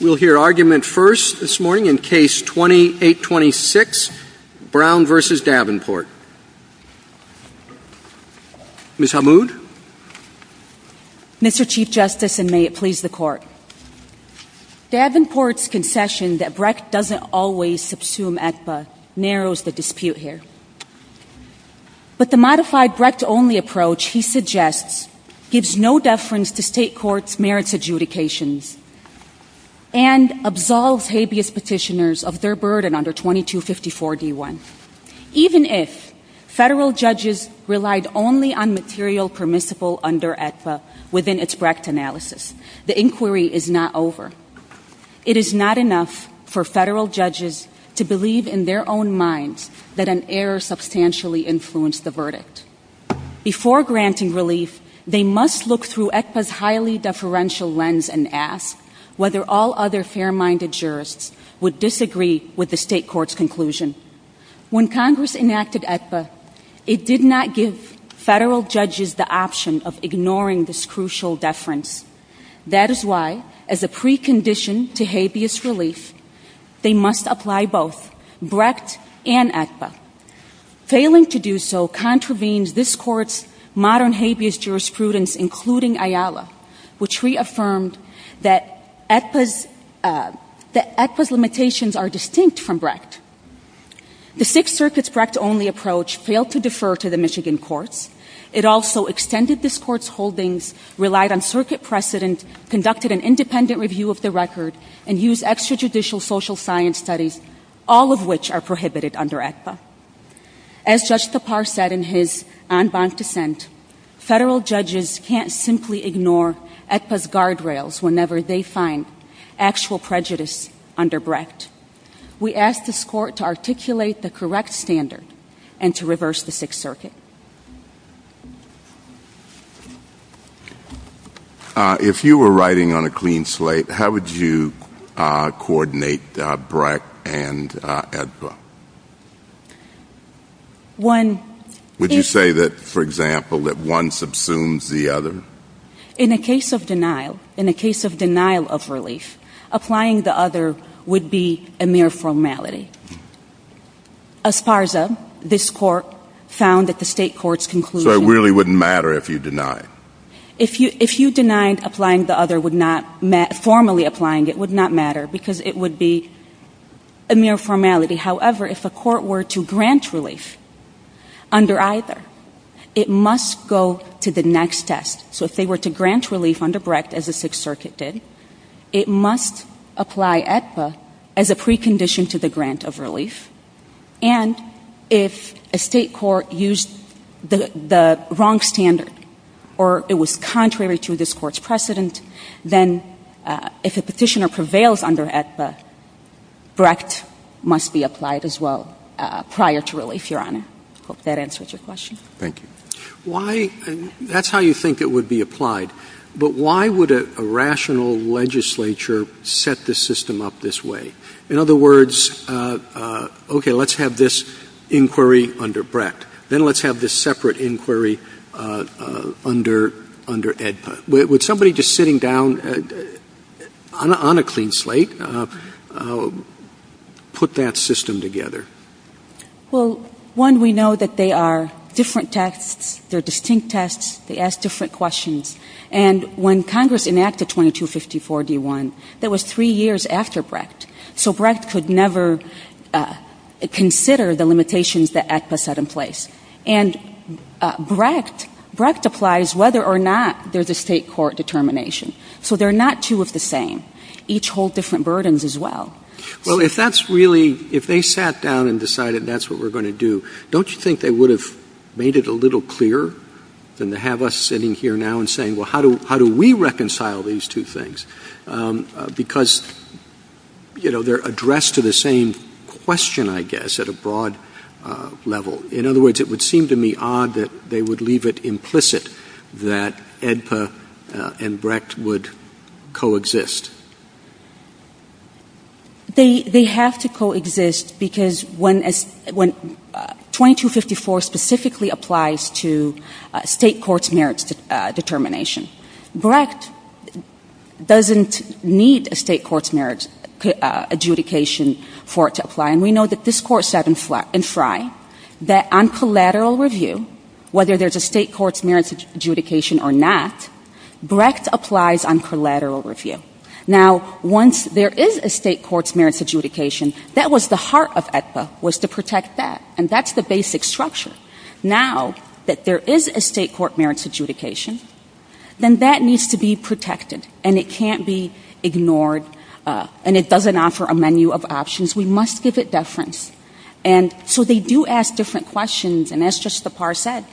We'll hear argument first this morning in case 2826, Brown v. Davenport. Ms. Hamoud? Mr. Chief Justice, and may it please the Court, Davenport's concession that Brecht doesn't always subsume ACPA narrows the dispute here. But the modified Brecht-only approach he suggests gives no deference to state courts' merits adjudications and absolves habeas petitioners of their burden under 2254 D.I. Even if federal judges relied only on material permissible under ACPA within its Brecht analysis, the inquiry is not over. It is not enough for federal judges to believe in their own minds that an error substantially influenced the verdict. Before granting relief, they must look through ACPA's highly deferential lens and ask whether all other fair-minded jurists would disagree with the state court's conclusion. When Congress enacted ACPA, it did not give federal judges the option of ignoring this crucial deference. That is why, as a precondition to habeas relief, they must apply both Brecht and ACPA. Failing to do so contravenes this Court's modern habeas jurisprudence, including IALA, which reaffirmed that ACPA's limitations are distinct from Brecht. The Sixth Circuit's Brecht-only approach failed to defer to the Michigan courts. It also extended this Court's holdings, relied on circuit precedent, conducted an independent review of the record, and used extrajudicial social science studies, all of which are prohibited under ACPA. As Judge Thapar said in his en banc dissent, federal judges can't simply ignore ACPA's guardrails whenever they find actual prejudice under Brecht. We ask this Court to articulate the correct standard and to reverse the Sixth Circuit. If you were writing on a clean slate, how would you coordinate Brecht and ACPA? Would you say that, for example, that one subsumes the other? In a case of denial, in a case of denial of relief, applying the other would be a mere formality. As far as this Court found at the state court's conclusion So it really wouldn't matter if you denied? If you denied applying the other, formally applying it would not matter because it would be a mere formality. However, if a court were to grant relief under either, it must go to the next test. So if they were to grant relief under Brecht, as the Sixth Circuit did, it must apply ACPA as a precondition to the grant of relief. And if a state court used the wrong standard or it was contrary to this Court's precedent, then if a Petitioner prevails under ACPA, Brecht must be applied as well prior to relief, Your Honor. I hope that answers your question. Thank you. Why — that's how you think it would be applied. But why would a rational legislature set the system up this way? In other words, okay, let's have this inquiry under Brecht. Then let's have this separate inquiry under — under ACPA. Would somebody just sitting down on a clean slate put that system together? Well, one, we know that they are different tests. They're distinct tests. They ask different questions. And when Congress enacted 2254-D1, that was three years after Brecht. So Brecht could never consider the limitations that ACPA set in place. And Brecht applies whether or not there's a state court determination. So they're not two of the same. Each hold different burdens as well. Well, if that's really — if they sat down and decided that's what we're going to do, don't you think they would have made it a little clearer than to have us sitting here now and saying, well, how do we reconcile these two things? Because, you know, they're addressed to the same question, I guess, at a broad level. In other words, it would seem to me odd that they would leave it implicit that AEDPA and Brecht would coexist. They have to coexist because when 2254 specifically applies to state court's merits determination, Brecht doesn't need a state court's merits adjudication for it to apply. And we know that this Court said in Frye that on collateral review, whether there's a state court's merits adjudication or not, Brecht applies on collateral review. Now, once there is a state court's merits adjudication, that was the heart of AEDPA, was to protect that. And that's the basic structure. Now that there is a state court merits adjudication, then that needs to be protected. And it can't be ignored. And it doesn't offer a menu of options. We must give it deference. And so they do ask different questions. And as Justice Tappar said,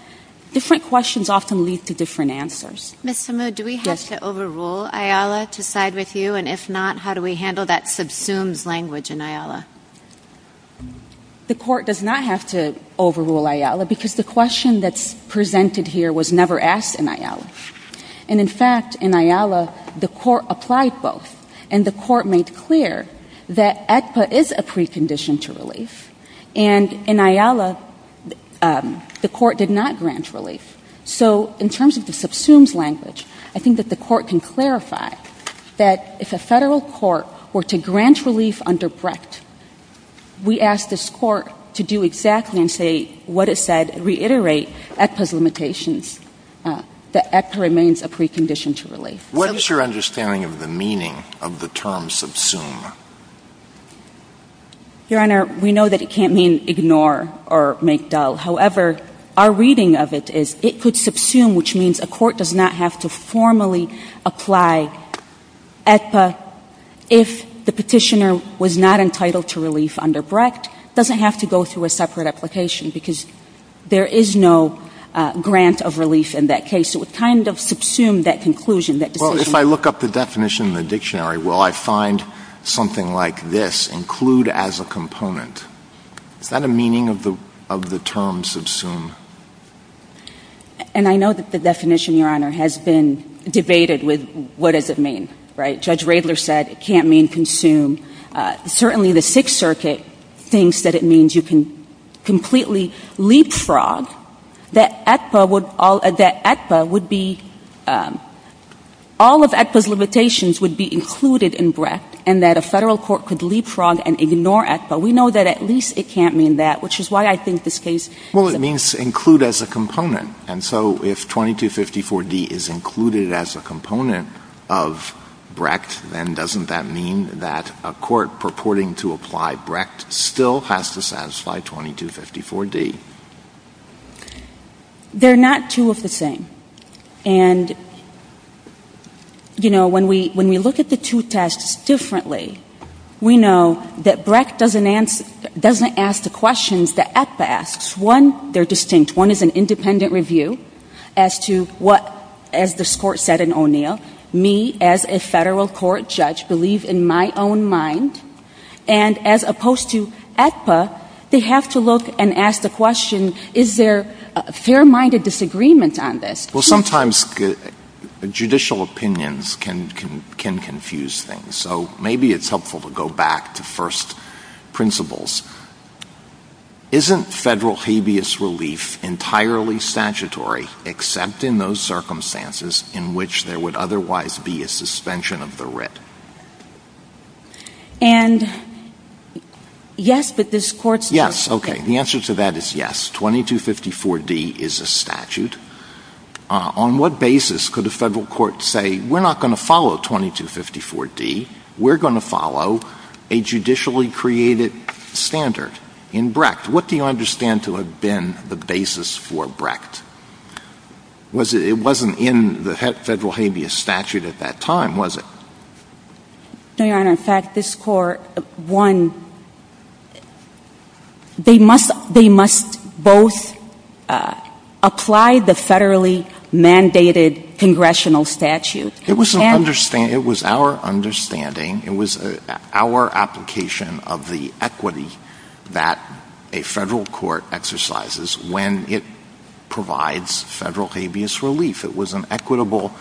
different questions often lead to different answers. Ms. Samu, do we have to overrule IALA to side with you? And if not, how do we handle that subsumes language in IALA? The Court does not have to overrule IALA because the question that's presented here was never asked in IALA. And, in fact, in IALA, the Court applied both. And the Court made clear that AEDPA is a precondition to relief. And in IALA, the Court did not grant relief. So in terms of the subsumes language, I think that the Court can clarify that if a Federal court were to grant relief under Brecht, we ask this Court to do exactly and say what it said, reiterate AEDPA's limitations, that AEDPA remains a precondition to relief. What is your understanding of the meaning of the term subsume? Your Honor, we know that it can't mean ignore or make dull. However, our reading of it is it could subsume, which means a court does not have to formally apply AEDPA if the Petitioner was not entitled to relief under Brecht, doesn't have to go through a separate application because there is no grant of relief in that case. It would kind of subsume that conclusion, that decision. Well, if I look up the definition in the dictionary, well, I find something like this, include as a component. Is that a meaning of the term subsume? And I know that the definition, Your Honor, has been debated with what does it mean, right? Judge Radler said it can't mean consume. Certainly, the Sixth Circuit thinks that it means you can completely leapfrog. That AEDPA would all – that AEDPA would be – all of AEDPA's limitations would be included in Brecht and that a Federal court could leapfrog and ignore AEDPA. We know that at least it can't mean that, which is why I think this case – Well, it means include as a component. And so if 2254d is included as a component of Brecht, then doesn't that mean that a court purporting to apply Brecht still has to satisfy 2254d? They're not two of the same. And, you know, when we look at the two tests differently, we know that Brecht doesn't ask the questions that AEDPA asks. One, they're distinct. One is an independent review as to what, as this Court said in O'Neill, me as a Federal court judge believe in my own mind. And as opposed to AEDPA, they have to look and ask the question, is there a fair-minded disagreement on this? Well, sometimes judicial opinions can confuse things. So maybe it's helpful to go back to first principles. Isn't Federal habeas relief entirely statutory except in those circumstances And yes, but this Court's – Yes. Okay. The answer to that is yes. 2254d is a statute. On what basis could a Federal court say, we're not going to follow 2254d, we're going to follow a judicially created standard in Brecht? What do you understand to have been the basis for Brecht? It wasn't in the Federal habeas statute at that time, was it? No, Your Honor. In fact, this Court, one, they must – they must both apply the Federally mandated congressional statute. It was an – it was our understanding, it was our application of the equity that a Federal court exercises when it provides Federal habeas relief. It was an equitable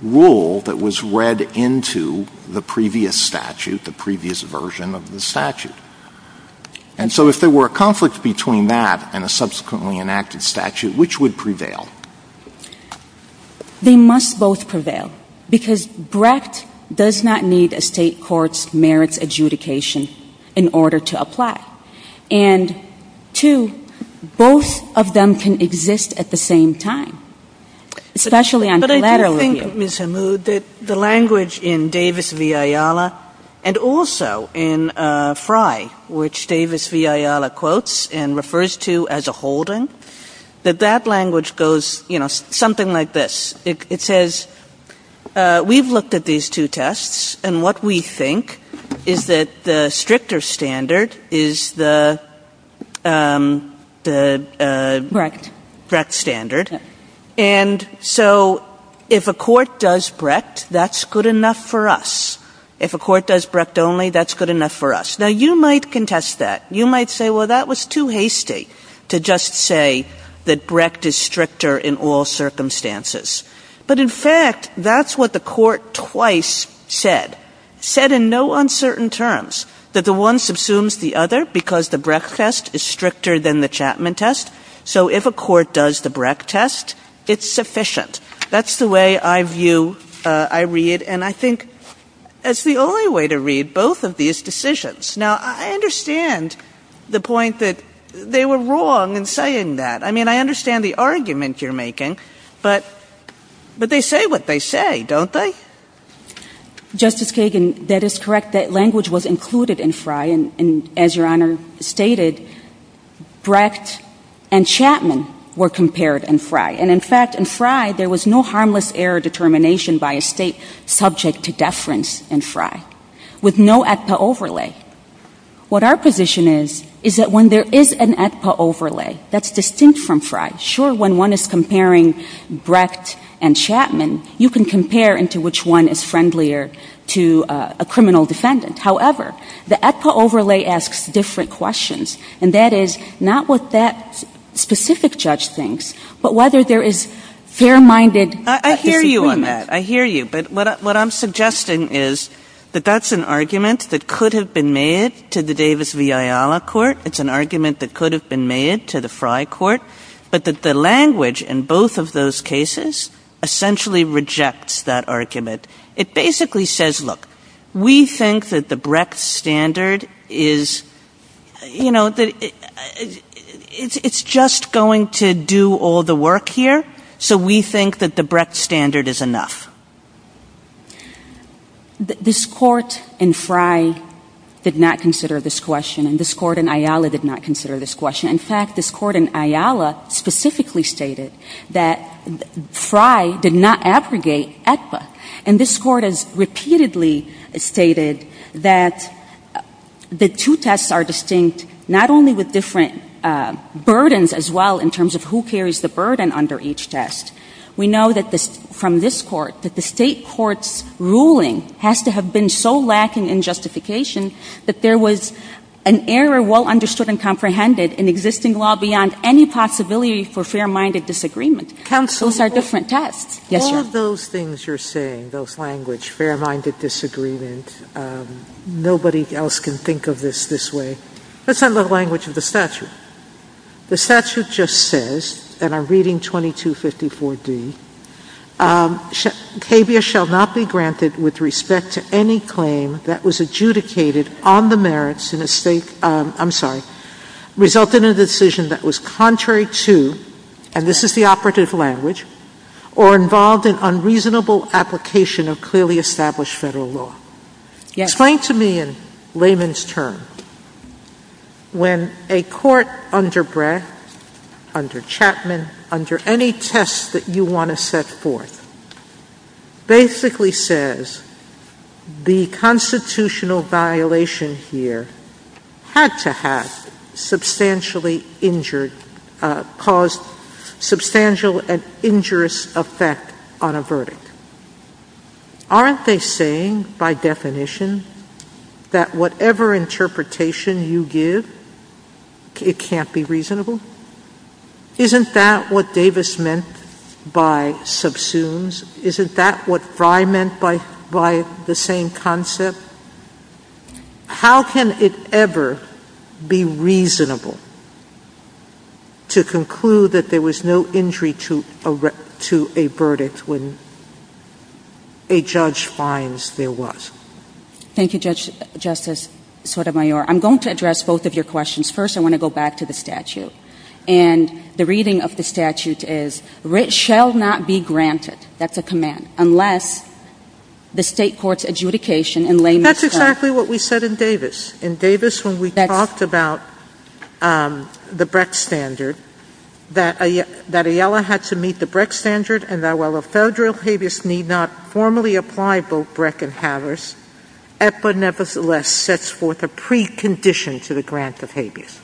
rule that was read into the previous statute, the previous version of the statute. And so if there were a conflict between that and a subsequently enacted statute, which would prevail? They must both prevail because Brecht does not need a State court's merits adjudication in order to apply. And two, both of them can exist at the same time. Especially on collateral review. But I do think, Ms. Hammoud, that the language in Davis v. Ayala, and also in Frey, which Davis v. Ayala quotes and refers to as a holding, that that language goes, you know, something like this. It says, we've looked at these two tests, and what we think is that the stricter standard is the – the – Brecht. Brecht standard. And so if a court does Brecht, that's good enough for us. If a court does Brecht only, that's good enough for us. Now, you might contest that. You might say, well, that was too hasty to just say that Brecht is stricter in all circumstances. But, in fact, that's what the Court twice said, said in no uncertain terms, that the one subsumes the other because the Brecht test is stricter than the Chapman test. So if a court does the Brecht test, it's sufficient. That's the way I view, I read, and I think it's the only way to read both of these decisions. Now, I understand the point that they were wrong in saying that. I mean, I understand the argument you're making, but they say what they say, don't they? Justice Kagan, that is correct. That language was included in Frey. And, as Your Honor stated, Brecht and Chapman were compared in Frey. And, in fact, in Frey, there was no harmless error determination by a State subject to deference in Frey with no AEDPA overlay. What our position is, is that when there is an AEDPA overlay that's distinct from Frey, sure, when one is comparing Brecht and Chapman, you can compare into which one is friendlier to a criminal defendant. However, the AEDPA overlay asks different questions. And that is not what that specific judge thinks, but whether there is fair-minded disagreement. Kagan. I hear you on that. I hear you. But what I'm suggesting is that that's an argument that could have been made to the Davis v. Ayala court. It's an argument that could have been made to the Frey court. But that the language in both of those cases essentially rejects that argument. It basically says, look, we think that the Brecht standard is, you know, it's just going to do all the work here, so we think that the Brecht standard is enough. This Court in Frey did not consider this question, and this Court in Ayala did not consider this question. In fact, this Court in Ayala specifically stated that Frey did not abrogate the AEDPA. And this Court has repeatedly stated that the two tests are distinct not only with different burdens as well in terms of who carries the burden under each test. We know from this Court that the State court's ruling has to have been so lacking in justification that there was an error well understood and comprehended in existing law beyond any possibility for fair-minded disagreement. Counsel. Those are different tests. Yes, Your Honor. All of those things you're saying, those language, fair-minded disagreement, nobody else can think of this this way. Let's have the language of the statute. The statute just says, and I'm reading 2254d, CABIA shall not be granted with respect to any claim that was adjudicated on the merits in a State, I'm sorry, resulted in a decision that was contrary to, and this is the operative language, or involved in unreasonable application of clearly established Federal law. Yes. Explain to me in layman's terms when a court under Brey, under Chapman, under any test that you want to set forth, basically says the constitutional violation here had to have substantially injured, caused substantial and injurious effect on a verdict, aren't they saying by definition that whatever interpretation you give, it can't be reasonable? Isn't that what Davis meant by subsumes? Isn't that what Frey meant by the same concept? How can it ever be reasonable to conclude that there was no injury to a verdict when a judge finds there was? Thank you, Justice Sotomayor. I'm going to address both of your questions. First, I want to go back to the statute. And the reading of the statute is, it shall not be granted, that's a command, unless the State court's adjudication in layman's terms. That's exactly what we said in Davis. In Davis, when we talked about the Breck standard, that Aiella had to meet the Breck standard, and that while a Federal habeas need not formally apply both Breck and Havis, EPA nevertheless sets forth a precondition to the grant of habeas.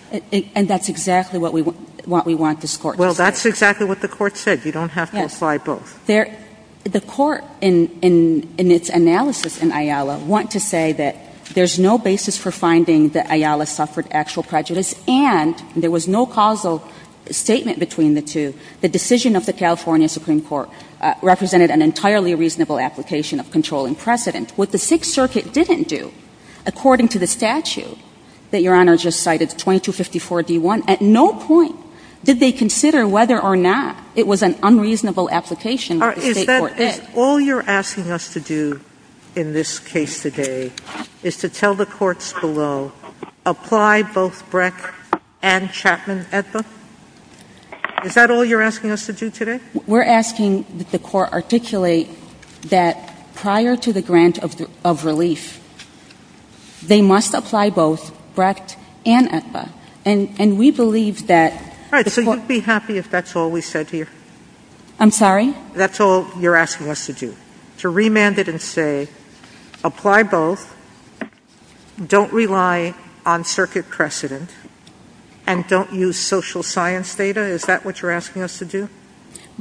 And that's exactly what we want this Court to say. Well, that's exactly what the Court said. You don't have to apply both. Yes. The Court, in its analysis in Aiella, want to say that there's no basis for finding that Aiella suffered actual prejudice, and there was no causal statement between the two. The decision of the California Supreme Court represented an entirely reasonable application of controlling precedent. What the Sixth Circuit didn't do, according to the statute that Your Honor just cited, 2254d1, at no point did they consider whether or not it was an unreasonable application that the State court did. All you're asking us to do in this case today is to tell the courts below, apply both Breck and Chapman EPA? Is that all you're asking us to do today? We're asking that the Court articulate that prior to the grant of relief, they must apply both Breck and EPA. And we believe that the Court — All right. So you'd be happy if that's all we said here? I'm sorry? That's all you're asking us to do, to remand it and say, apply both, don't rely on circuit precedent, and don't use social science data? Is that what you're asking us to do?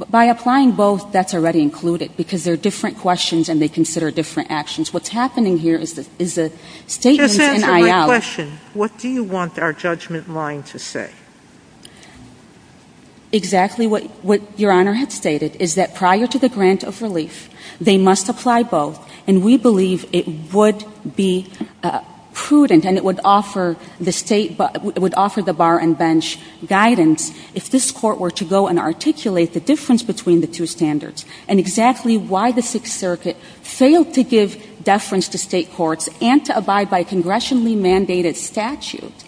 By applying both, that's already included, because they're different questions and they consider different actions. What's happening here is a statement in IL — Just answer my question. What do you want our judgment line to say? Exactly what Your Honor had stated, is that prior to the grant of relief, they must apply both. And we believe it would be prudent and it would offer the State — it would offer the bar and bench guidance if this Court were to go and articulate the difference between the two standards, and exactly why the Sixth Circuit failed to give deference to State courts and to abide by a congressionally mandated statute.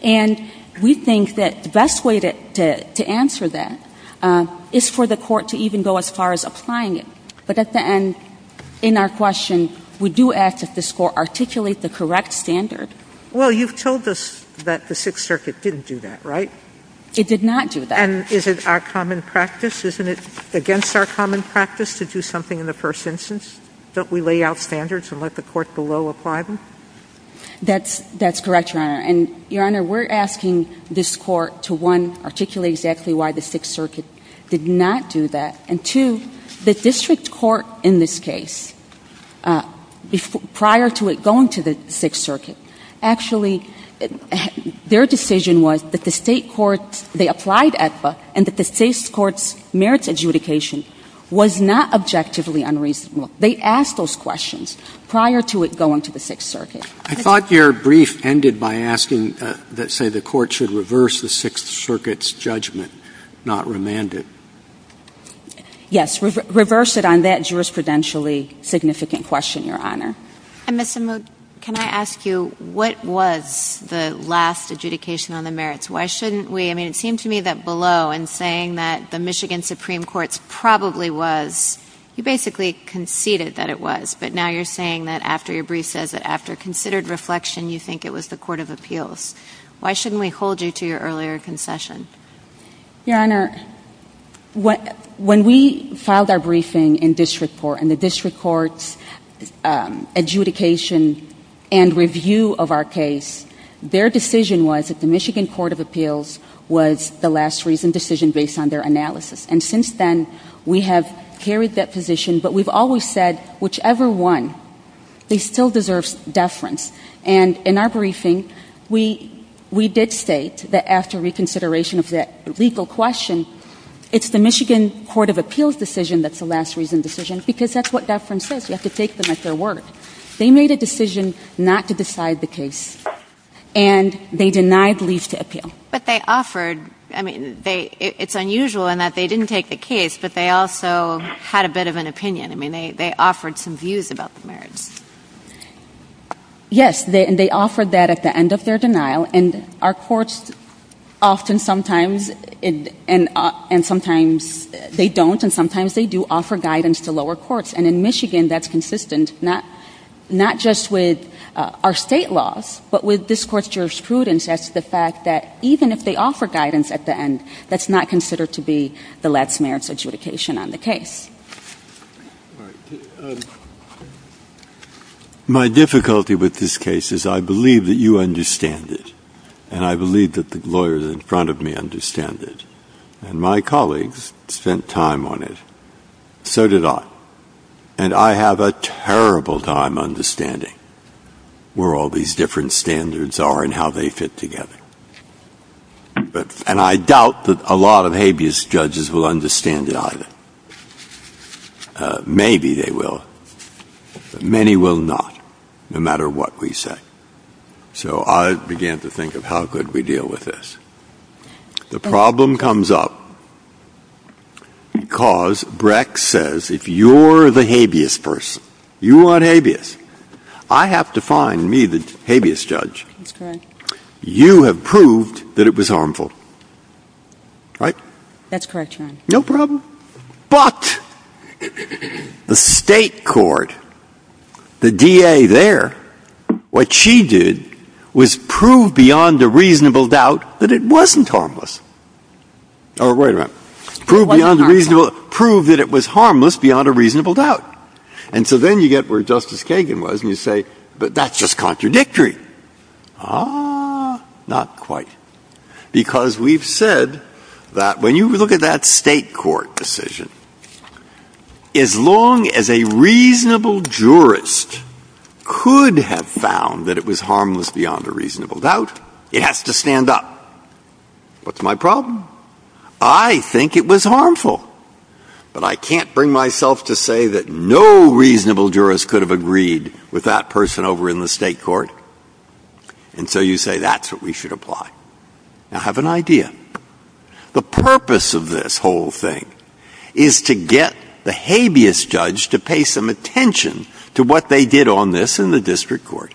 And we think that the best way to answer that is for the Court to even go as far as applying it. But at the end, in our question, we do ask that this Court articulate the correct standard. Well, you've told us that the Sixth Circuit didn't do that, right? It did not do that. And is it our common practice? Isn't it against our common practice to do something in the first instance? Don't we lay out standards and let the Court below apply them? That's correct, Your Honor. And Your Honor, we're asking this Court to, one, articulate exactly why the Sixth Circuit did not do that, and two, the district court in this case, prior to it going to the Sixth Circuit, actually, their decision was that the State courts, they applied AEDPA, and that the State courts' merits adjudication was not objectively unreasonable. They asked those questions prior to it going to the Sixth Circuit. I thought your brief ended by asking that, say, the Court should reverse the Sixth Circuit's judgment, not remand it. Yes. Reverse it on that jurisprudentially significant question, Your Honor. And, Ms. Simut, can I ask you, what was the last adjudication on the merits? Why shouldn't we? I mean, it seemed to me that below, in saying that the Michigan Supreme Court's probably was, you basically conceded that it was, but now you're saying that after your brief says that after considered reflection, you think it was the Court of Appeals. Why shouldn't we hold you to your earlier concession? Your Honor, when we filed our briefing in district court, and the district courts adjudication and review of our case, their decision was that the Michigan Court of Appeals was the last reason decision based on their analysis. And since then, we have carried that position, but we've always said, whichever one, they still deserve deference. And in our briefing, we did state that after reconsideration of that legal question, it's the Michigan Court of Appeals decision that's the last reason decision, because that's what deference is. You have to take them at their word. They made a decision not to decide the case, and they denied leave to appeal. But they offered, I mean, it's unusual in that they didn't take the case, but they also had a bit of an opinion. I mean, they offered some views about the merits. Yes, and they offered that at the end of their denial. And our courts often sometimes, and sometimes they don't, and sometimes they do offer guidance to lower courts. And in Michigan, that's consistent not just with our state laws, but with this court's jurisprudence as to the fact that even if they offer guidance at the end, that's not considered to be the last merits adjudication on the case. All right. My difficulty with this case is I believe that you understand it, and I believe that the lawyers in front of me understand it. And my colleagues spent time on it. So did I. And I have a terrible time understanding where all these different standards are and how they fit together. And I doubt that a lot of habeas judges will understand it either. Maybe they will, but many will not, no matter what we say. So I began to think of how could we deal with this. The problem comes up because Breck says if you're the habeas person, you want habeas, I have to find me the habeas judge. That's correct. You have proved that it was harmful. Right? That's correct, Your Honor. No problem. But the State court, the DA there, what she did was prove beyond a reasonable doubt that it wasn't harmless. Oh, wait a minute. Prove beyond a reasonable doubt. Prove that it was harmless beyond a reasonable doubt. And so then you get where Justice Kagan was and you say, but that's just contradictory. Ah, not quite. Because we've said that when you look at that State court decision, as long as a reasonable jurist could have found that it was harmless beyond a reasonable doubt, it has to stand up. What's my problem? I think it was harmful. But I can't bring myself to say that no reasonable jurist could have agreed with that person over in the State court. And so you say that's what we should apply. Now, have an idea. The purpose of this whole thing is to get the habeas judge to pay some attention to what they did on this in the District court,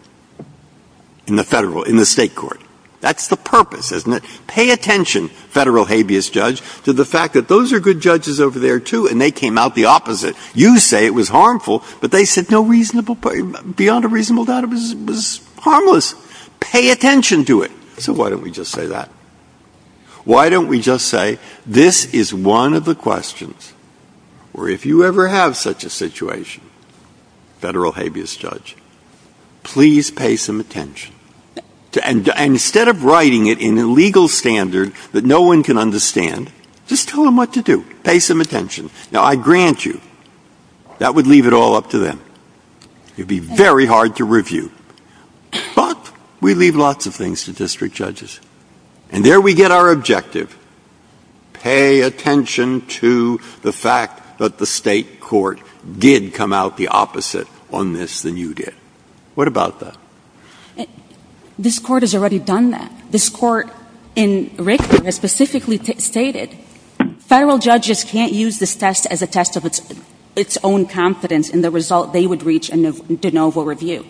in the Federal — in the State court. That's the purpose, isn't it? Pay attention, Federal habeas judge, to the fact that those are good judges over there, too, and they came out the opposite. You say it was harmful, but they said no reasonable — beyond a reasonable doubt it was harmless. Pay attention to it. So why don't we just say that? Why don't we just say this is one of the questions, or if you ever have such a situation, Federal habeas judge, please pay some attention. And instead of writing it in a legal standard that no one can understand, just tell them what to do. Pay some attention. Now, I grant you, that would leave it all up to them. It would be very hard to review. But we leave lots of things to district judges. And there we get our objective. Pay attention to the fact that the State court did come out the opposite on this than you did. What about that? This Court has already done that. This Court in Richter has specifically stated, Federal judges can't use this test as a test of its own confidence in the result they would reach in a de novo review.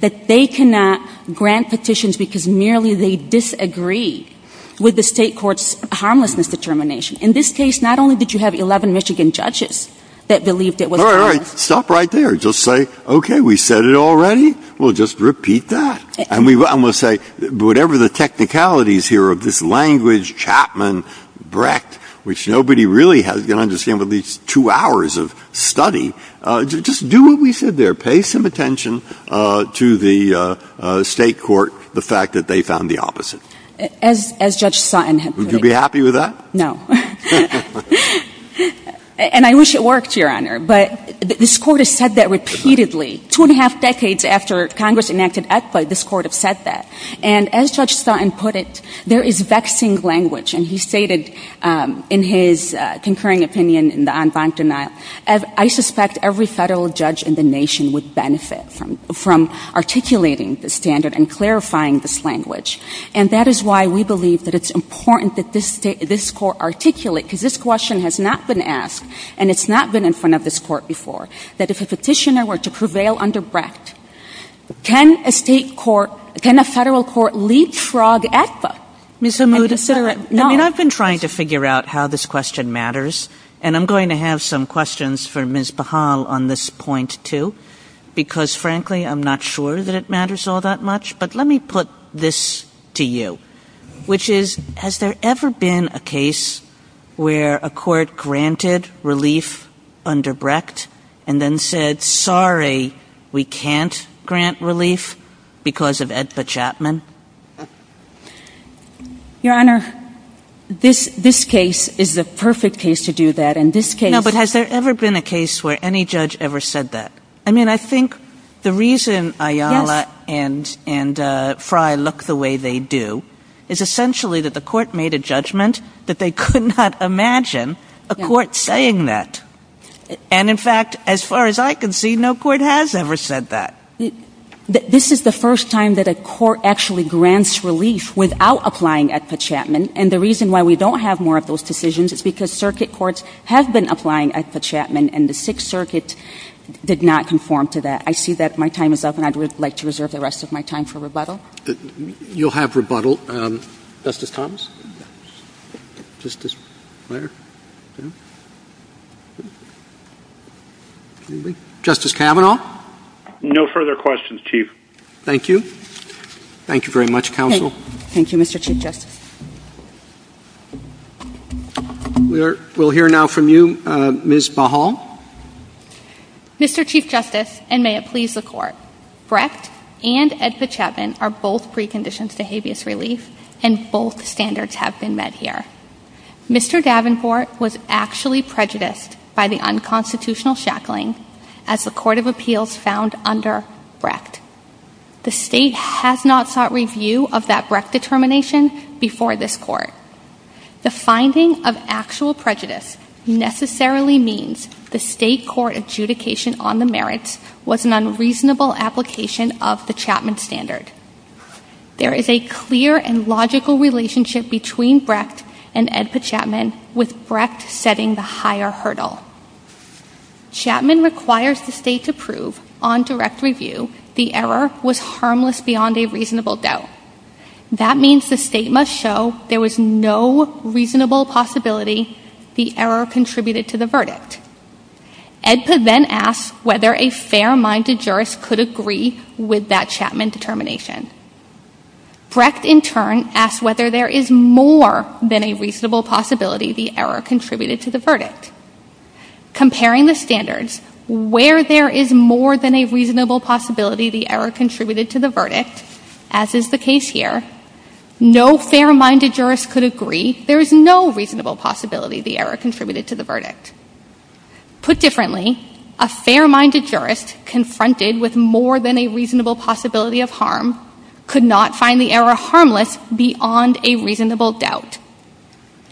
That they cannot grant petitions because merely they disagree with the State court's harmlessness determination. In this case, not only did you have 11 Michigan judges that believed it was harmless. All right. All right. Stop right there. Just say, okay, we said it already. We'll just repeat that. And we'll say, whatever the technicalities here of this language, Chapman, Brecht, which nobody really is going to understand with these two hours of study, just do what we said there. Pay some attention to the State court, the fact that they found the opposite. As Judge Sutton had put it. Would you be happy with that? No. And I wish it worked, Your Honor. But this Court has said that repeatedly. Two and a half decades after Congress enacted ACFA, this Court have said that. And as Judge Sutton put it, there is vexing language. And he stated in his concurring opinion in the en banc denial, I suspect every Federal judge in the nation would benefit from articulating the standard and clarifying this language. And that is why we believe that it's important that this Court articulate, because this question has not been asked, and it's not been in front of this Court before, that if a petitioner were to prevail under Brecht, can a State court, can a Federal court leapfrog ACFA and consider it? No. I mean, I've been trying to figure out how this question matters. And I'm going to have some questions for Ms. Pahal on this point, too. Because, frankly, I'm not sure that it matters all that much. But let me put this to you, which is, has there ever been a case where a court granted relief under Brecht and then said, sorry, we can't grant relief because of EDPA Chapman? Your Honor, this case is the perfect case to do that. And this case — No, but has there ever been a case where any judge ever said that? I mean, I think the reason Ayala and Frey look the way they do is essentially that the Court made a judgment that they could not imagine a court saying that. And, in fact, as far as I can see, no court has ever said that. This is the first time that a court actually grants relief without applying EDPA Chapman. And the reason why we don't have more of those decisions is because circuit courts have been applying EDPA Chapman, and the Sixth Circuit did not conform to that. I see that my time is up, and I would like to reserve the rest of my time for rebuttal. You'll have rebuttal. Justice Thomas? Justice Breyer? Justice Kavanaugh? No further questions, Chief. Thank you. Thank you very much, Counsel. Thank you, Mr. Chief Justice. We'll hear now from you, Ms. Bahal. Mr. Chief Justice, and may it please the Court, Brecht and EDPA Chapman are both preconditions to habeas relief, and both standards have been met here. Mr. Davenport was actually prejudiced by the unconstitutional shackling, as the Court of Appeals found under Brecht. The State has not sought review of that Brecht determination before this Court. The finding of actual prejudice necessarily means the State court adjudication on the merits was an unreasonable application of the Chapman standard. There is a clear and logical relationship between Brecht and EDPA Chapman, with Brecht setting the higher hurdle. Chapman requires the State to prove on direct review the error was harmless beyond a reasonable doubt. That means the State must show there was no reasonable possibility the error contributed to the verdict. EDPA then asks whether a fair-minded jurist could agree with that Chapman determination. Brecht in turn asks whether there is more than a reasonable possibility the error contributed to the verdict. Comparing the standards, where there is more than a reasonable possibility the error contributed to the verdict, as is the case here, no fair-minded jurist could agree there is no reasonable possibility the error contributed to the verdict. Put differently, a fair-minded jurist confronted with more than a reasonable possibility of harm could not find the error harmless beyond a reasonable doubt.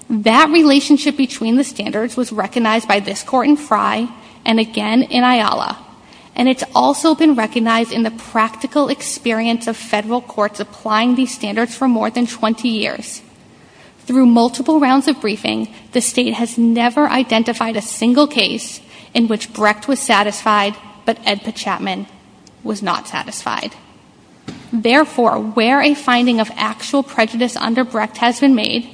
That relationship between the standards was recognized by this Court in Frey and again in Ayala, and it's also been recognized in the practical experience of Federal courts applying these standards for more than 20 years. Through multiple rounds of briefing, the State has never identified a single case in which Brecht was satisfied but EDPA Chapman was not satisfied. Therefore, where a finding of actual prejudice under Brecht has been made,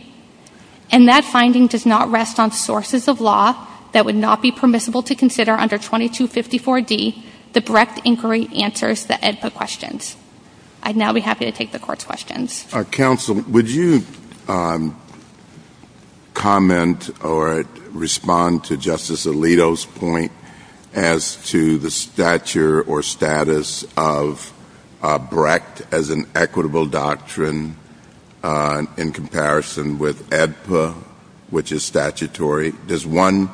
and that finding does not rest on sources of law that would not be permissible to consider under 2254d, the Brecht inquiry answers the EDPA questions. I'd now be happy to take the Court's questions. Counsel, would you comment or respond to Justice Alito's point as to the stature or status of Brecht as an equitable doctrine in comparison with EDPA, which is statutory? Does one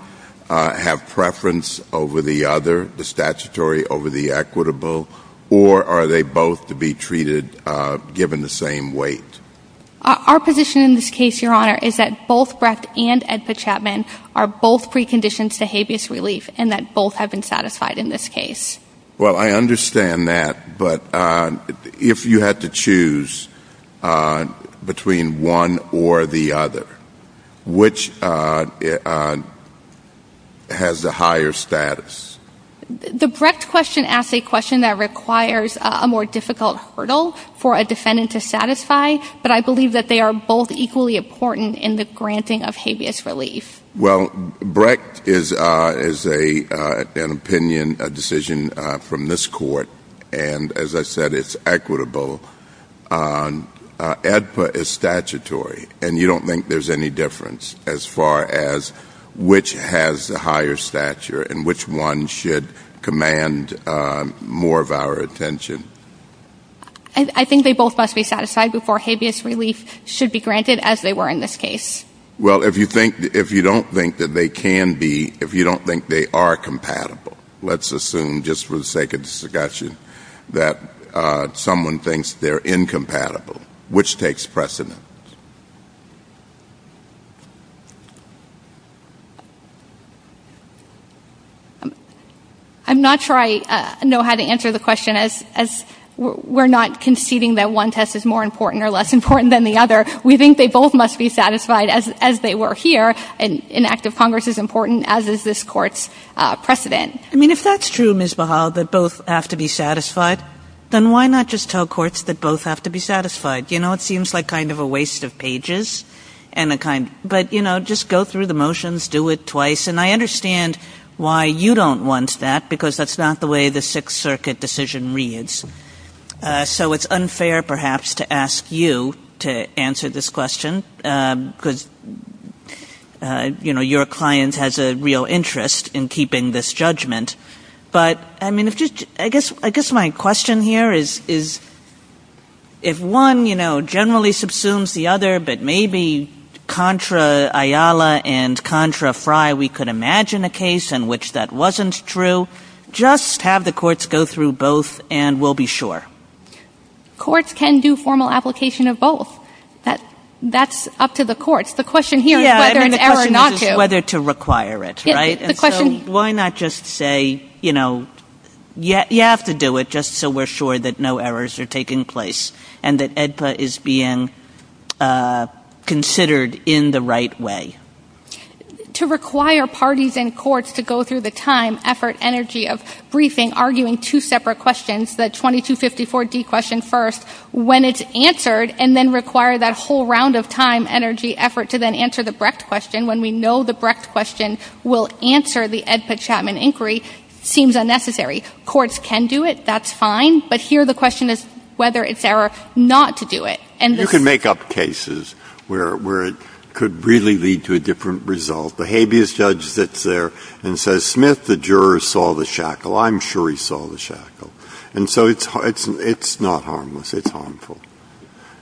have preference over the other, the statutory over the equitable, or are they both to be treated given the same weight? Our position in this case, Your Honor, is that both Brecht and EDPA Chapman are both preconditions to habeas relief and that both have been satisfied in this case. Well, I understand that, but if you had to choose between one or the other, which has the higher status? The Brecht question asks a question that requires a more difficult hurdle for a defendant to satisfy, but I believe that they are both equally important in the granting of habeas relief. Well, Brecht is an opinion, a decision from this Court, and as I said, it's equitable. EDPA is statutory, and you don't think there's any difference as far as which has the higher stature and which one should command more of our attention? I think they both must be satisfied before habeas relief should be granted, as they were in this case. Well, if you don't think that they can be, if you don't think they are compatible, let's assume, just for the sake of discussion, that someone thinks they're incompatible. Which takes precedent? I'm not sure I know how to answer the question, as we're not conceding that one test is more important or less important than the other. We think they both must be satisfied, as they were here. An act of Congress is important, as is this Court's precedent. I mean, if that's true, Ms. Bahal, that both have to be satisfied, then why not just tell courts that both have to be satisfied? You know, it seems like kind of a waste of pages. But, you know, just go through the motions, do it twice. And I understand why you don't want that, because that's not the way the Sixth Circuit decision reads. So it's unfair, perhaps, to ask you to answer this question, because, you know, your client has a real interest in keeping this judgment. But, I mean, I guess my question here is, if one, you know, generally subsumes the other, but maybe contra Ayala and contra Frye, we could imagine a case in which that wasn't true, just have the courts go through both, and we'll be sure. Courts can do formal application of both. That's up to the courts. The question here is whether or not to. Yeah, I mean, the question is whether to require it, right? And so why not just say, you know, you have to do it just so we're sure that no errors are taking place, and that AEDPA is being considered in the right way? To require parties and courts to go through the time, effort, energy of briefing, arguing two separate questions, the 2254D question first, when it's answered, and then require that whole round of time, energy, effort to then answer the Brecht question will answer the AEDPA-Chapman inquiry seems unnecessary. Courts can do it. That's fine. But here the question is whether it's error not to do it. And this — Breyer. You can make up cases where it could really lead to a different result. The habeas judge sits there and says, Smith, the juror saw the shackle. I'm sure he saw the shackle. And so it's not harmless. It's harmful.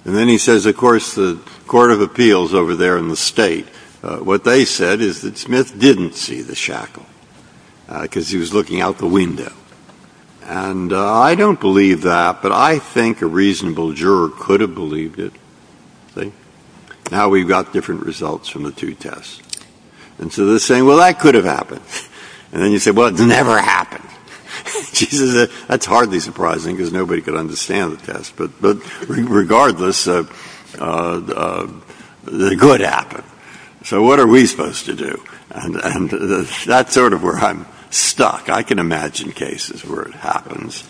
And then he says, of course, the court of appeals over there in the State, what they said is that Smith didn't see the shackle because he was looking out the window. And I don't believe that, but I think a reasonable juror could have believed it. See? Now we've got different results from the two tests. And so they're saying, well, that could have happened. And then you say, well, it never happened. That's hardly surprising because nobody could understand the test. But regardless, the good happened. So what are we supposed to do? And that's sort of where I'm stuck. I can imagine cases where it happens.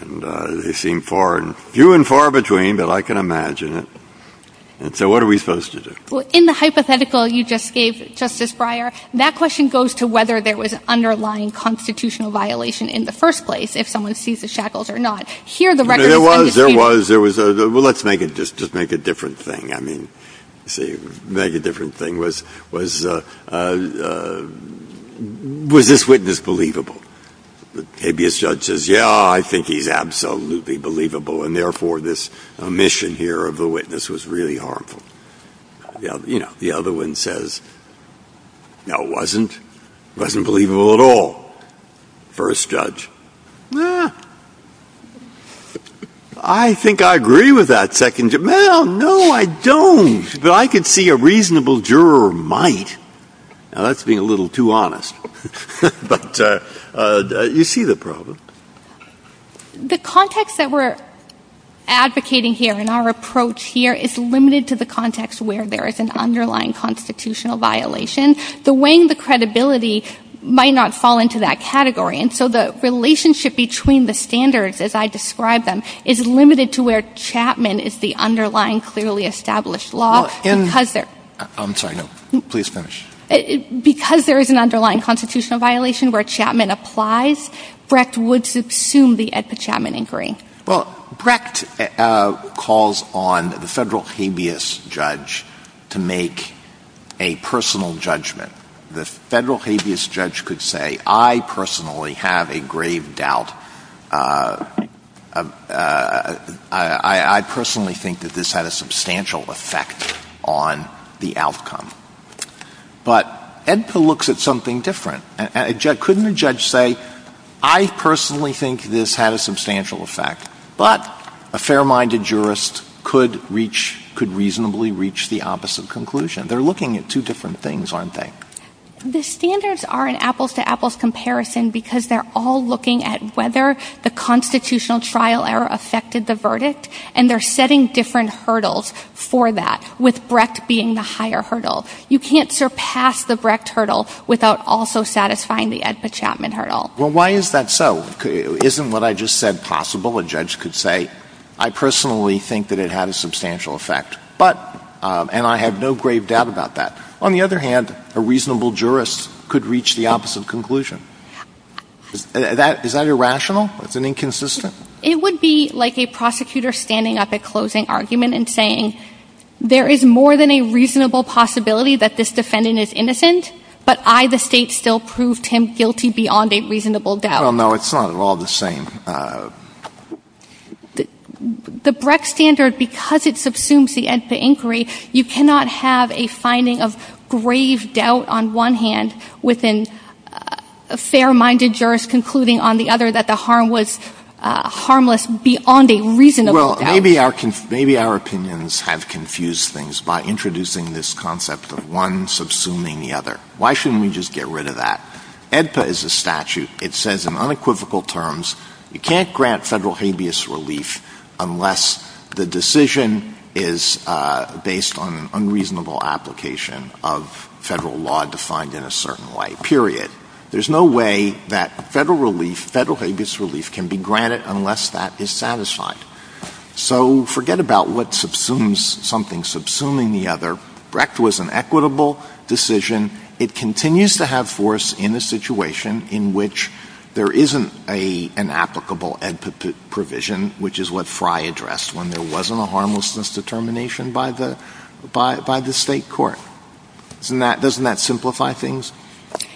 And they seem far and few and far between, but I can imagine it. And so what are we supposed to do? Well, in the hypothetical you just gave, Justice Breyer, that question goes to whether there was an underlying constitutional violation in the first place, if someone sees the shackles or not. Here the record is undisputed. There was. There was. There was. Well, let's make it just make a different thing. I mean, see, make a different thing. Was this witness believable? Maybe a judge says, yeah, I think he's absolutely believable, and therefore this omission here of the witness was really harmful. You know, the other one says, no, it wasn't. It wasn't believable at all. First judge. I think I agree with that second judge. No, no, I don't. But I could see a reasonable juror might. Now, that's being a little too honest. But you see the problem. The context that we're advocating here and our approach here is limited to the context where there is an underlying constitutional violation. The weighing the credibility might not fall into that category. And so the relationship between the standards, as I described them, is limited to where Chapman is the underlying clearly established law. I'm sorry. No. Please finish. Because there is an underlying constitutional violation where Chapman applies, Brecht would subsume the Edpa-Chapman inquiry. Well, Brecht calls on the federal habeas judge to make a personal judgment. The federal habeas judge could say, I personally have a grave doubt. I personally think that this had a substantial effect on the outcome. But Edpa looks at something different. Couldn't a judge say, I personally think this had a substantial effect, but a fair-minded jurist could reasonably reach the opposite conclusion? They're looking at two different things, aren't they? The standards are an apples-to-apples comparison because they're all looking at whether the constitutional trial error affected the verdict, and they're setting different hurdles for that, with Brecht being the higher hurdle. You can't surpass the Brecht hurdle without also satisfying the Edpa-Chapman hurdle. Well, why is that so? Isn't what I just said possible? A judge could say, I personally think that it had a substantial effect, but — and I have no grave doubt about that. On the other hand, a reasonable jurist could reach the opposite conclusion. Is that irrational? Is that inconsistent? It would be like a prosecutor standing up at closing argument and saying, there is more than a reasonable possibility that this defendant is innocent, but I, the State, still prove Tim guilty beyond a reasonable doubt. Well, no, it's not at all the same. The Brecht standard, because it subsumes the Edpa inquiry, you cannot have a finding of grave doubt on one hand with a fair-minded jurist concluding on the other that the harm was harmless beyond a reasonable doubt. Well, maybe our opinions have confused things by introducing this concept of one subsuming the other. Why shouldn't we just get rid of that? Edpa is a statute. It says in unequivocal terms, you can't grant Federal habeas relief unless the decision is based on an unreasonable application of Federal law defined in a certain way, period. There's no way that Federal relief, Federal habeas relief can be granted unless that is satisfied. So forget about what subsumes something subsuming the other. Brecht was an equitable decision. It continues to have force in a situation in which there isn't an applicable Edpa provision, which is what Frey addressed when there wasn't a harmlessness determination by the State court. Doesn't that simplify things?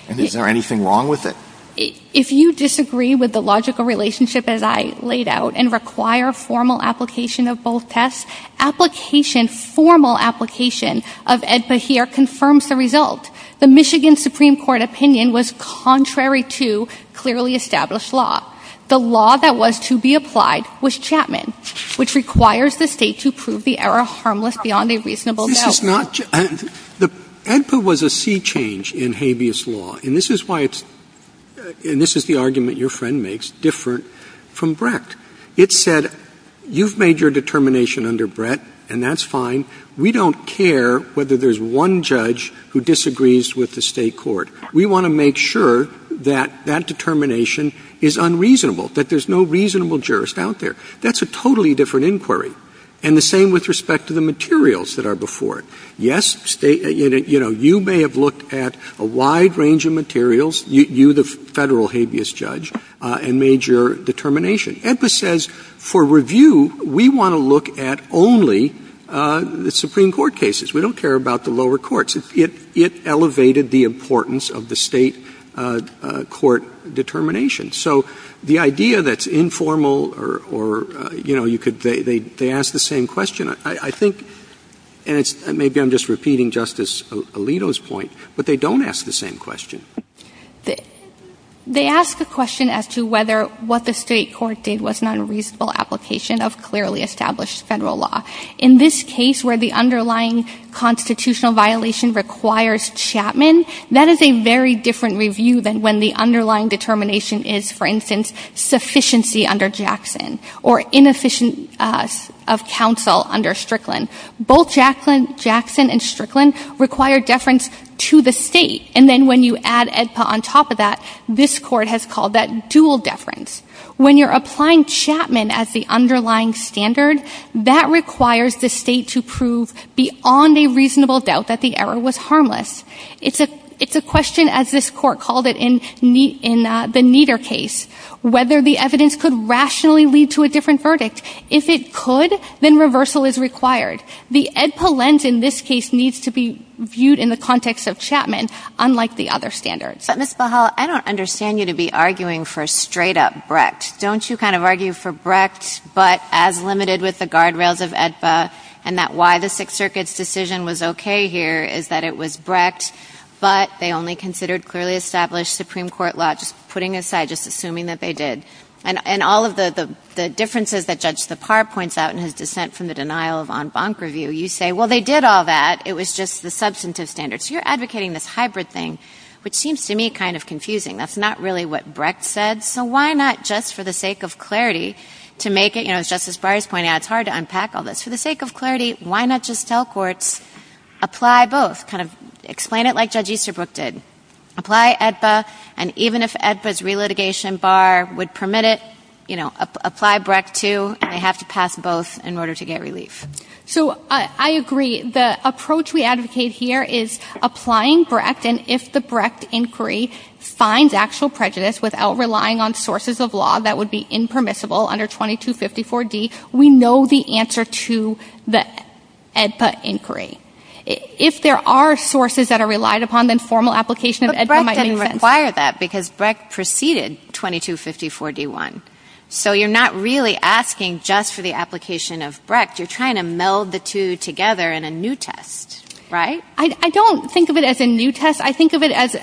And is there anything wrong with it? If you disagree with the logical relationship as I laid out and require formal application of both tests, application, formal application of Edpa here confirms the result. The Michigan Supreme Court opinion was contrary to clearly established law. The law that was to be applied was Chapman, which requires the State to prove the error harmless beyond a reasonable doubt. This is not — Edpa was a sea change in habeas law. And this is why it's — and this is the argument your friend makes, different from Brecht. It said, you've made your determination under Brecht, and that's fine. We don't care whether there's one judge who disagrees with the State court. We want to make sure that that determination is unreasonable, that there's no reasonable jurist out there. That's a totally different inquiry. And the same with respect to the materials that are before it. Yes, State — you know, you may have looked at a wide range of materials, you, the Federal habeas judge, and made your determination. Edpa says, for review, we want to look at only the Supreme Court cases. We don't care about the lower courts. It elevated the importance of the State court determination. So the idea that's informal or, you know, you could — they ask the same question. I think — and it's — maybe I'm just repeating Justice Alito's point, but they don't ask the same question. They ask a question as to whether what the State court did was not a reasonable application of clearly established Federal law. In this case, where the underlying constitutional violation requires Chapman, that is a very different review than when the underlying determination is, for instance, sufficiency under Jackson or inefficiency of counsel under Strickland. Both Jackson and Strickland require deference to the State. And then when you add Edpa on top of that, this Court has called that dual deference. When you're applying Chapman as the underlying standard, that requires the State to prove beyond a reasonable doubt that the error was harmless. It's a question, as this Court called it in the Kneader case, whether the evidence could rationally lead to a different verdict. If it could, then reversal is required. The Edpa lens in this case needs to be viewed in the context of Chapman, unlike the other standards. But, Ms. Bahal, I don't understand you to be arguing for straight-up Brecht. Don't you kind of argue for Brecht, but as limited with the guardrails of Edpa and that why the Sixth Circuit's decision was okay here is that it was Brecht, but they only considered clearly established Supreme Court law, just putting aside, just assuming that they did. And all of the differences that Judge Tappar points out in his dissent from the book review, you say, well, they did all that. It was just the substantive standards. You're advocating this hybrid thing, which seems to me kind of confusing. That's not really what Brecht said, so why not just for the sake of clarity to make it, you know, as Justice Breyer's pointing out, it's hard to unpack all this. For the sake of clarity, why not just tell courts, apply both. Kind of explain it like Judge Easterbrook did. Apply Edpa, and even if Edpa's relitigation bar would permit it, you know, apply Brecht too, and they have to pass both in order to get relief. So I agree. The approach we advocate here is applying Brecht, and if the Brecht inquiry finds actual prejudice without relying on sources of law that would be impermissible under 2254D, we know the answer to the Edpa inquiry. If there are sources that are relied upon, then formal application of Edpa might make sense. But Brecht didn't require that because Brecht preceded 2254D-1. So you're not really asking just for the application of Brecht. You're trying to meld the two together in a new test, right? I don't think of it as a new test. I think of it as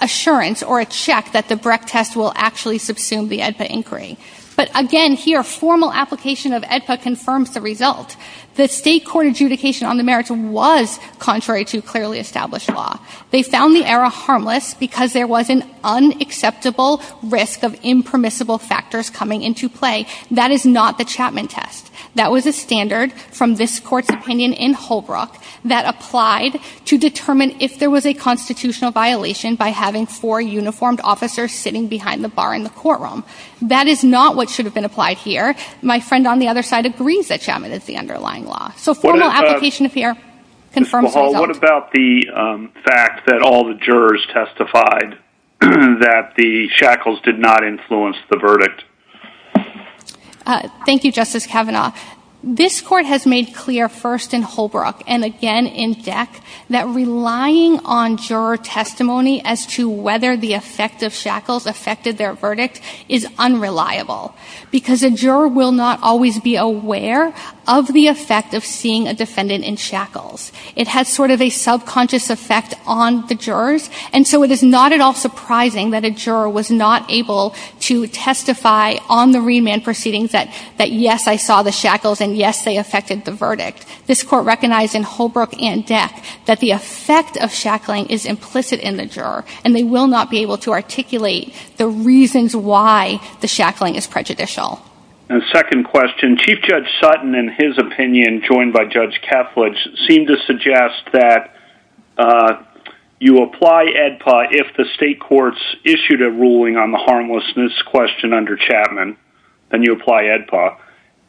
assurance or a check that the Brecht test will actually subsume the Edpa inquiry. But again, here, formal application of Edpa confirms the result. The State court adjudication on the merits was contrary to clearly established law. They found the error harmless because there was an unacceptable risk of impermissible factors coming into play. That is not the Chapman test. That was a standard from this court's opinion in Holbrook that applied to determine if there was a constitutional violation by having four uniformed officers sitting behind the bar in the courtroom. That is not what should have been applied here. My friend on the other side agrees that Chapman is the underlying law. So formal application of here confirms the result. What about the fact that all the jurors testified that the shackles did not influence the verdict? Thank you, Justice Kavanaugh. This court has made clear first in Holbrook and again in DEC that relying on juror testimony as to whether the effect of shackles affected their verdict is unreliable because a juror will not always be aware of the effect of seeing a defendant in shackles. It has sort of a subconscious effect on the jurors. And so it is not at all surprising that a juror was not able to testify on the remand proceedings that yes, I saw the shackles and yes, they affected the verdict. This court recognized in Holbrook and DEC that the effect of shackling is implicit in the juror and they will not be able to articulate the reasons why the shackling is prejudicial. And second question, Chief Judge Sutton in his opinion joined by Judge Edpa, if the state courts issued a ruling on the harmlessness question under Chapman, then you apply Edpa.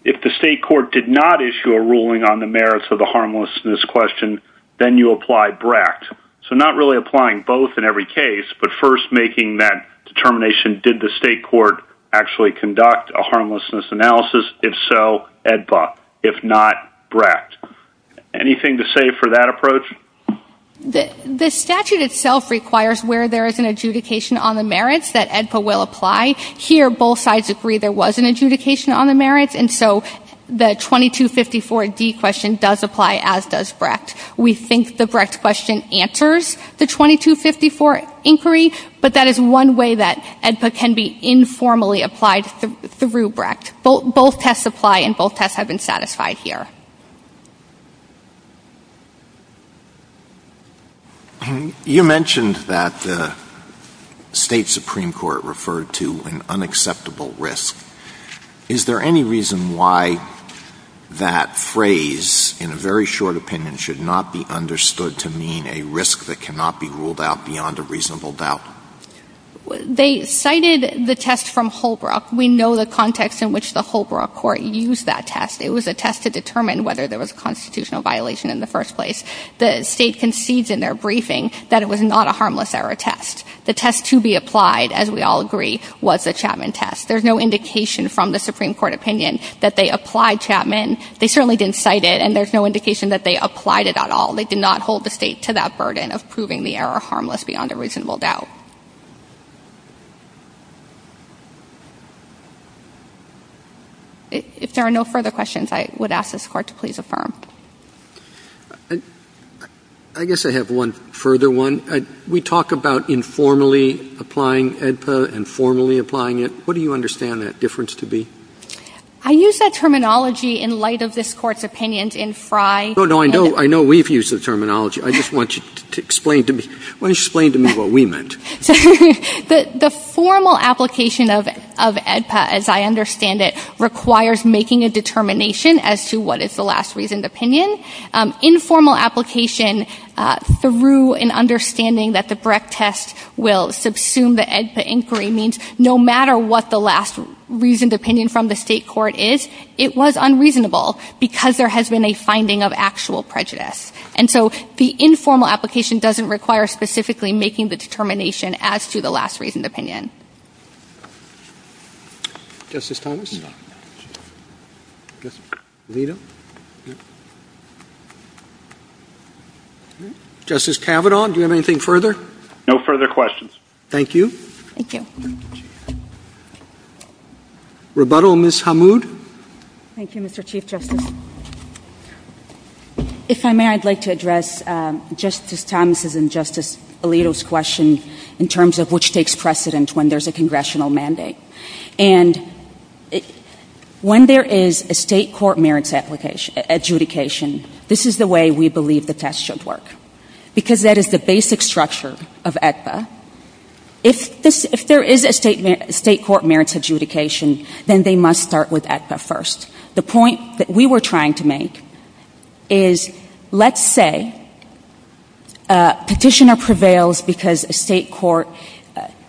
If the state court did not issue a ruling on the merits of the harmlessness question, then you apply Bracht. So not really applying both in every case, but first making that determination, did the state court actually conduct a harmlessness analysis? If so, Edpa. If not, Bracht. Anything to say for that approach? The statute itself requires where there is an adjudication on the merits that Edpa will apply. Here both sides agree there was an adjudication on the merits and so the 2254D question does apply as does Bracht. We think the Bracht question answers the 2254 inquiry, but that is one way that Edpa can be informally applied through Bracht. Both tests apply and both tests have been satisfied here. You mentioned that the state Supreme Court referred to an unacceptable risk. Is there any reason why that phrase in a very short opinion should not be understood to mean a risk that cannot be ruled out beyond a reasonable doubt? They cited the test from Holbrook. We know the context in which the Holbrook court used that test. It was a test to determine whether there was a constitutional violation in the first place. The state concedes in their briefing that it was not a harmless error test. The test to be applied, as we all agree, was the Chapman test. There is no indication from the Supreme Court opinion that they applied Chapman. They certainly didn't cite it and there is no indication that they applied it at all. They did not hold the state to that burden of proving the error harmless beyond a reasonable doubt. If there are no further questions, I would ask this court to please affirm. I guess I have one further one. We talk about informally applying AEDPA and formally applying it. What do you understand that difference to be? I use that terminology in light of this Court's opinions in Frye. No, no. I know we've used the terminology. I just want you to explain to me what we meant. The formal application of AEDPA, as I understand it, requires making a determination as to what is the last reasoned opinion. Informal application through an understanding that the Brecht test will subsume the AEDPA inquiry means no matter what the last reasoned opinion from the state court is, it was unreasonable because there has been a finding of actual prejudice. And so the informal application doesn't require specifically making the determination as to the last reasoned opinion. Justice Thomas? Alito? Justice Kavanaugh, do you have anything further? No further questions. Thank you. Thank you. Rebuttal, Ms. Hamoud. Thank you, Mr. Chief Justice. If I may, I'd like to address Justice Thomas' and Justice Alito's question in terms of which takes precedent when there's a congressional mandate. And when there is a state court merits adjudication, this is the way we believe the test should work because that is the basic structure of AEDPA. If there is a state court merits adjudication, then they must start with AEDPA first. The point that we were trying to make is let's say a petitioner prevails because a court,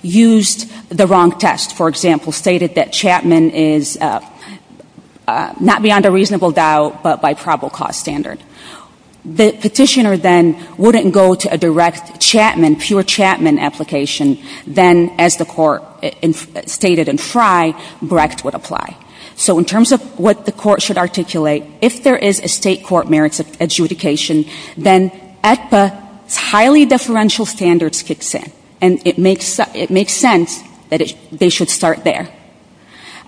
for example, stated that Chapman is not beyond a reasonable doubt, but by probable cause standard. The petitioner then wouldn't go to a direct Chapman, pure Chapman application, then as the court stated in Frye, Brecht would apply. So in terms of what the court should articulate, if there is a state court merits adjudication, then AEDPA's highly deferential standards kicks in. And it makes sense that they should start there.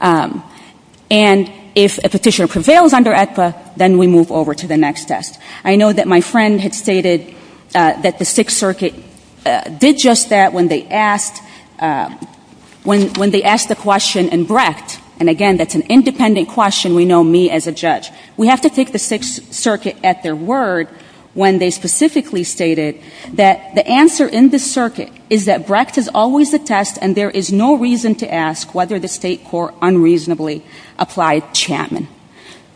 And if a petitioner prevails under AEDPA, then we move over to the next test. I know that my friend had stated that the Sixth Circuit did just that when they asked the question in Brecht. And again, that's an independent question. We know me as a judge. We have to take the Sixth Circuit at their word when they specifically stated that the test, and there is no reason to ask whether the state court unreasonably applied Chapman.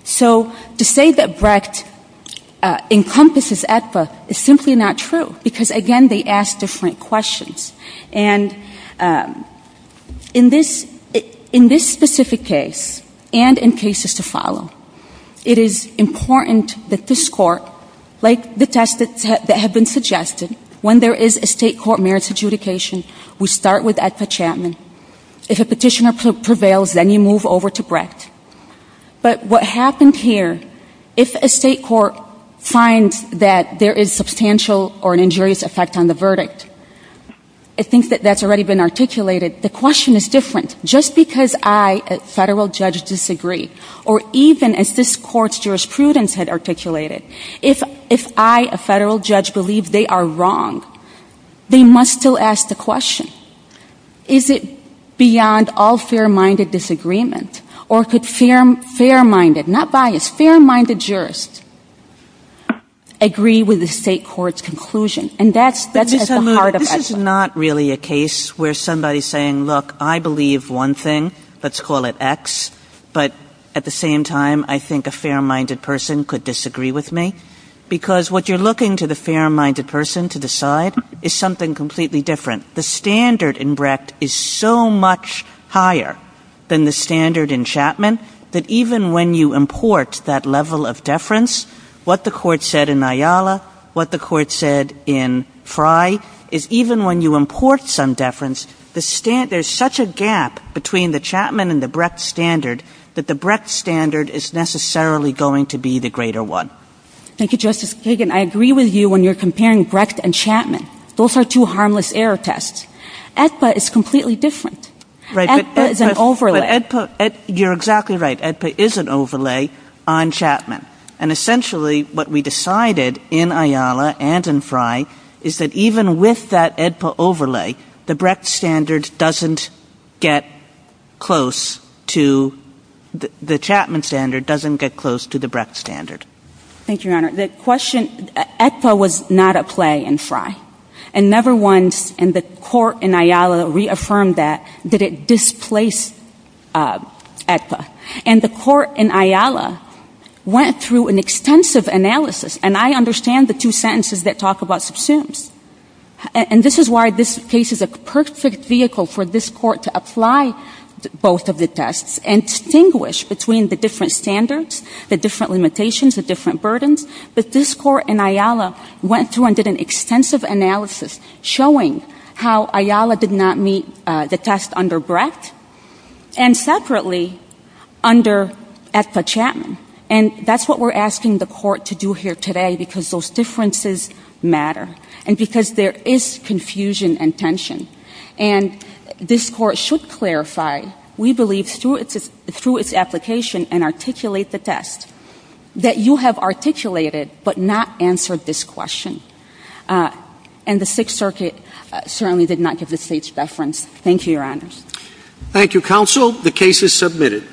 So to say that Brecht encompasses AEDPA is simply not true because, again, they ask different questions. And in this specific case and in cases to follow, it is important that this court, like the tests that have been suggested, when there is a state court merits adjudication, we start with AEDPA Chapman. If a petitioner prevails, then you move over to Brecht. But what happened here, if a state court finds that there is substantial or an injurious effect on the verdict, it thinks that that's already been articulated, the question is different. Just because I, a federal judge, disagree, or even as this court's jurisprudence had articulated, if I, a federal judge, believe they are wrong, they must still ask the question, is it beyond all fair-minded disagreement? Or could fair-minded, not biased, fair-minded jurists agree with the state court's conclusion? And that's at the heart of it. This is not really a case where somebody's saying, look, I believe one thing, let's call it X, but at the same time, I think a fair-minded person could disagree with me. Because what you're looking to the fair-minded person to decide is something completely different. The standard in Brecht is so much higher than the standard in Chapman that even when you import that level of deference, what the court said in Ayala, what the court said in Chapman, even when you import some deference, there's such a gap between the Chapman and the Brecht standard that the Brecht standard is necessarily going to be the greater one. Thank you, Justice Kagan. I agree with you when you're comparing Brecht and Chapman. Those are two harmless error tests. Aetba is completely different. Aetba is an overlay. But Aetba, you're exactly right. Aetba is an overlay on Chapman. And essentially what we decided in Ayala and in Frey is that even with that Aetba overlay, the Brecht standard doesn't get close to the Chapman standard, doesn't get close to the Brecht standard. Thank you, Your Honor. The question, Aetba was not a play in Frey. And never once in the court in Ayala reaffirmed that, that it displaced Aetba. And the court in Ayala went through an extensive analysis. And I understand the two sentences that talk about subsumes. And this is why this case is a perfect vehicle for this court to apply both of the tests and distinguish between the different standards, the different limitations, the different burdens. But this court in Ayala went through and did an extensive analysis showing how Ayala did not meet the test under Brecht. And separately, under Aetba Chapman. And that's what we're asking the court to do here today because those differences matter. And because there is confusion and tension. And this court should clarify, we believe, through its application and articulate the test, that you have articulated but not answered this question. And the Sixth Circuit certainly did not give the State's reference. Thank you, Your Honors. Thank you, Counsel. The case is submitted.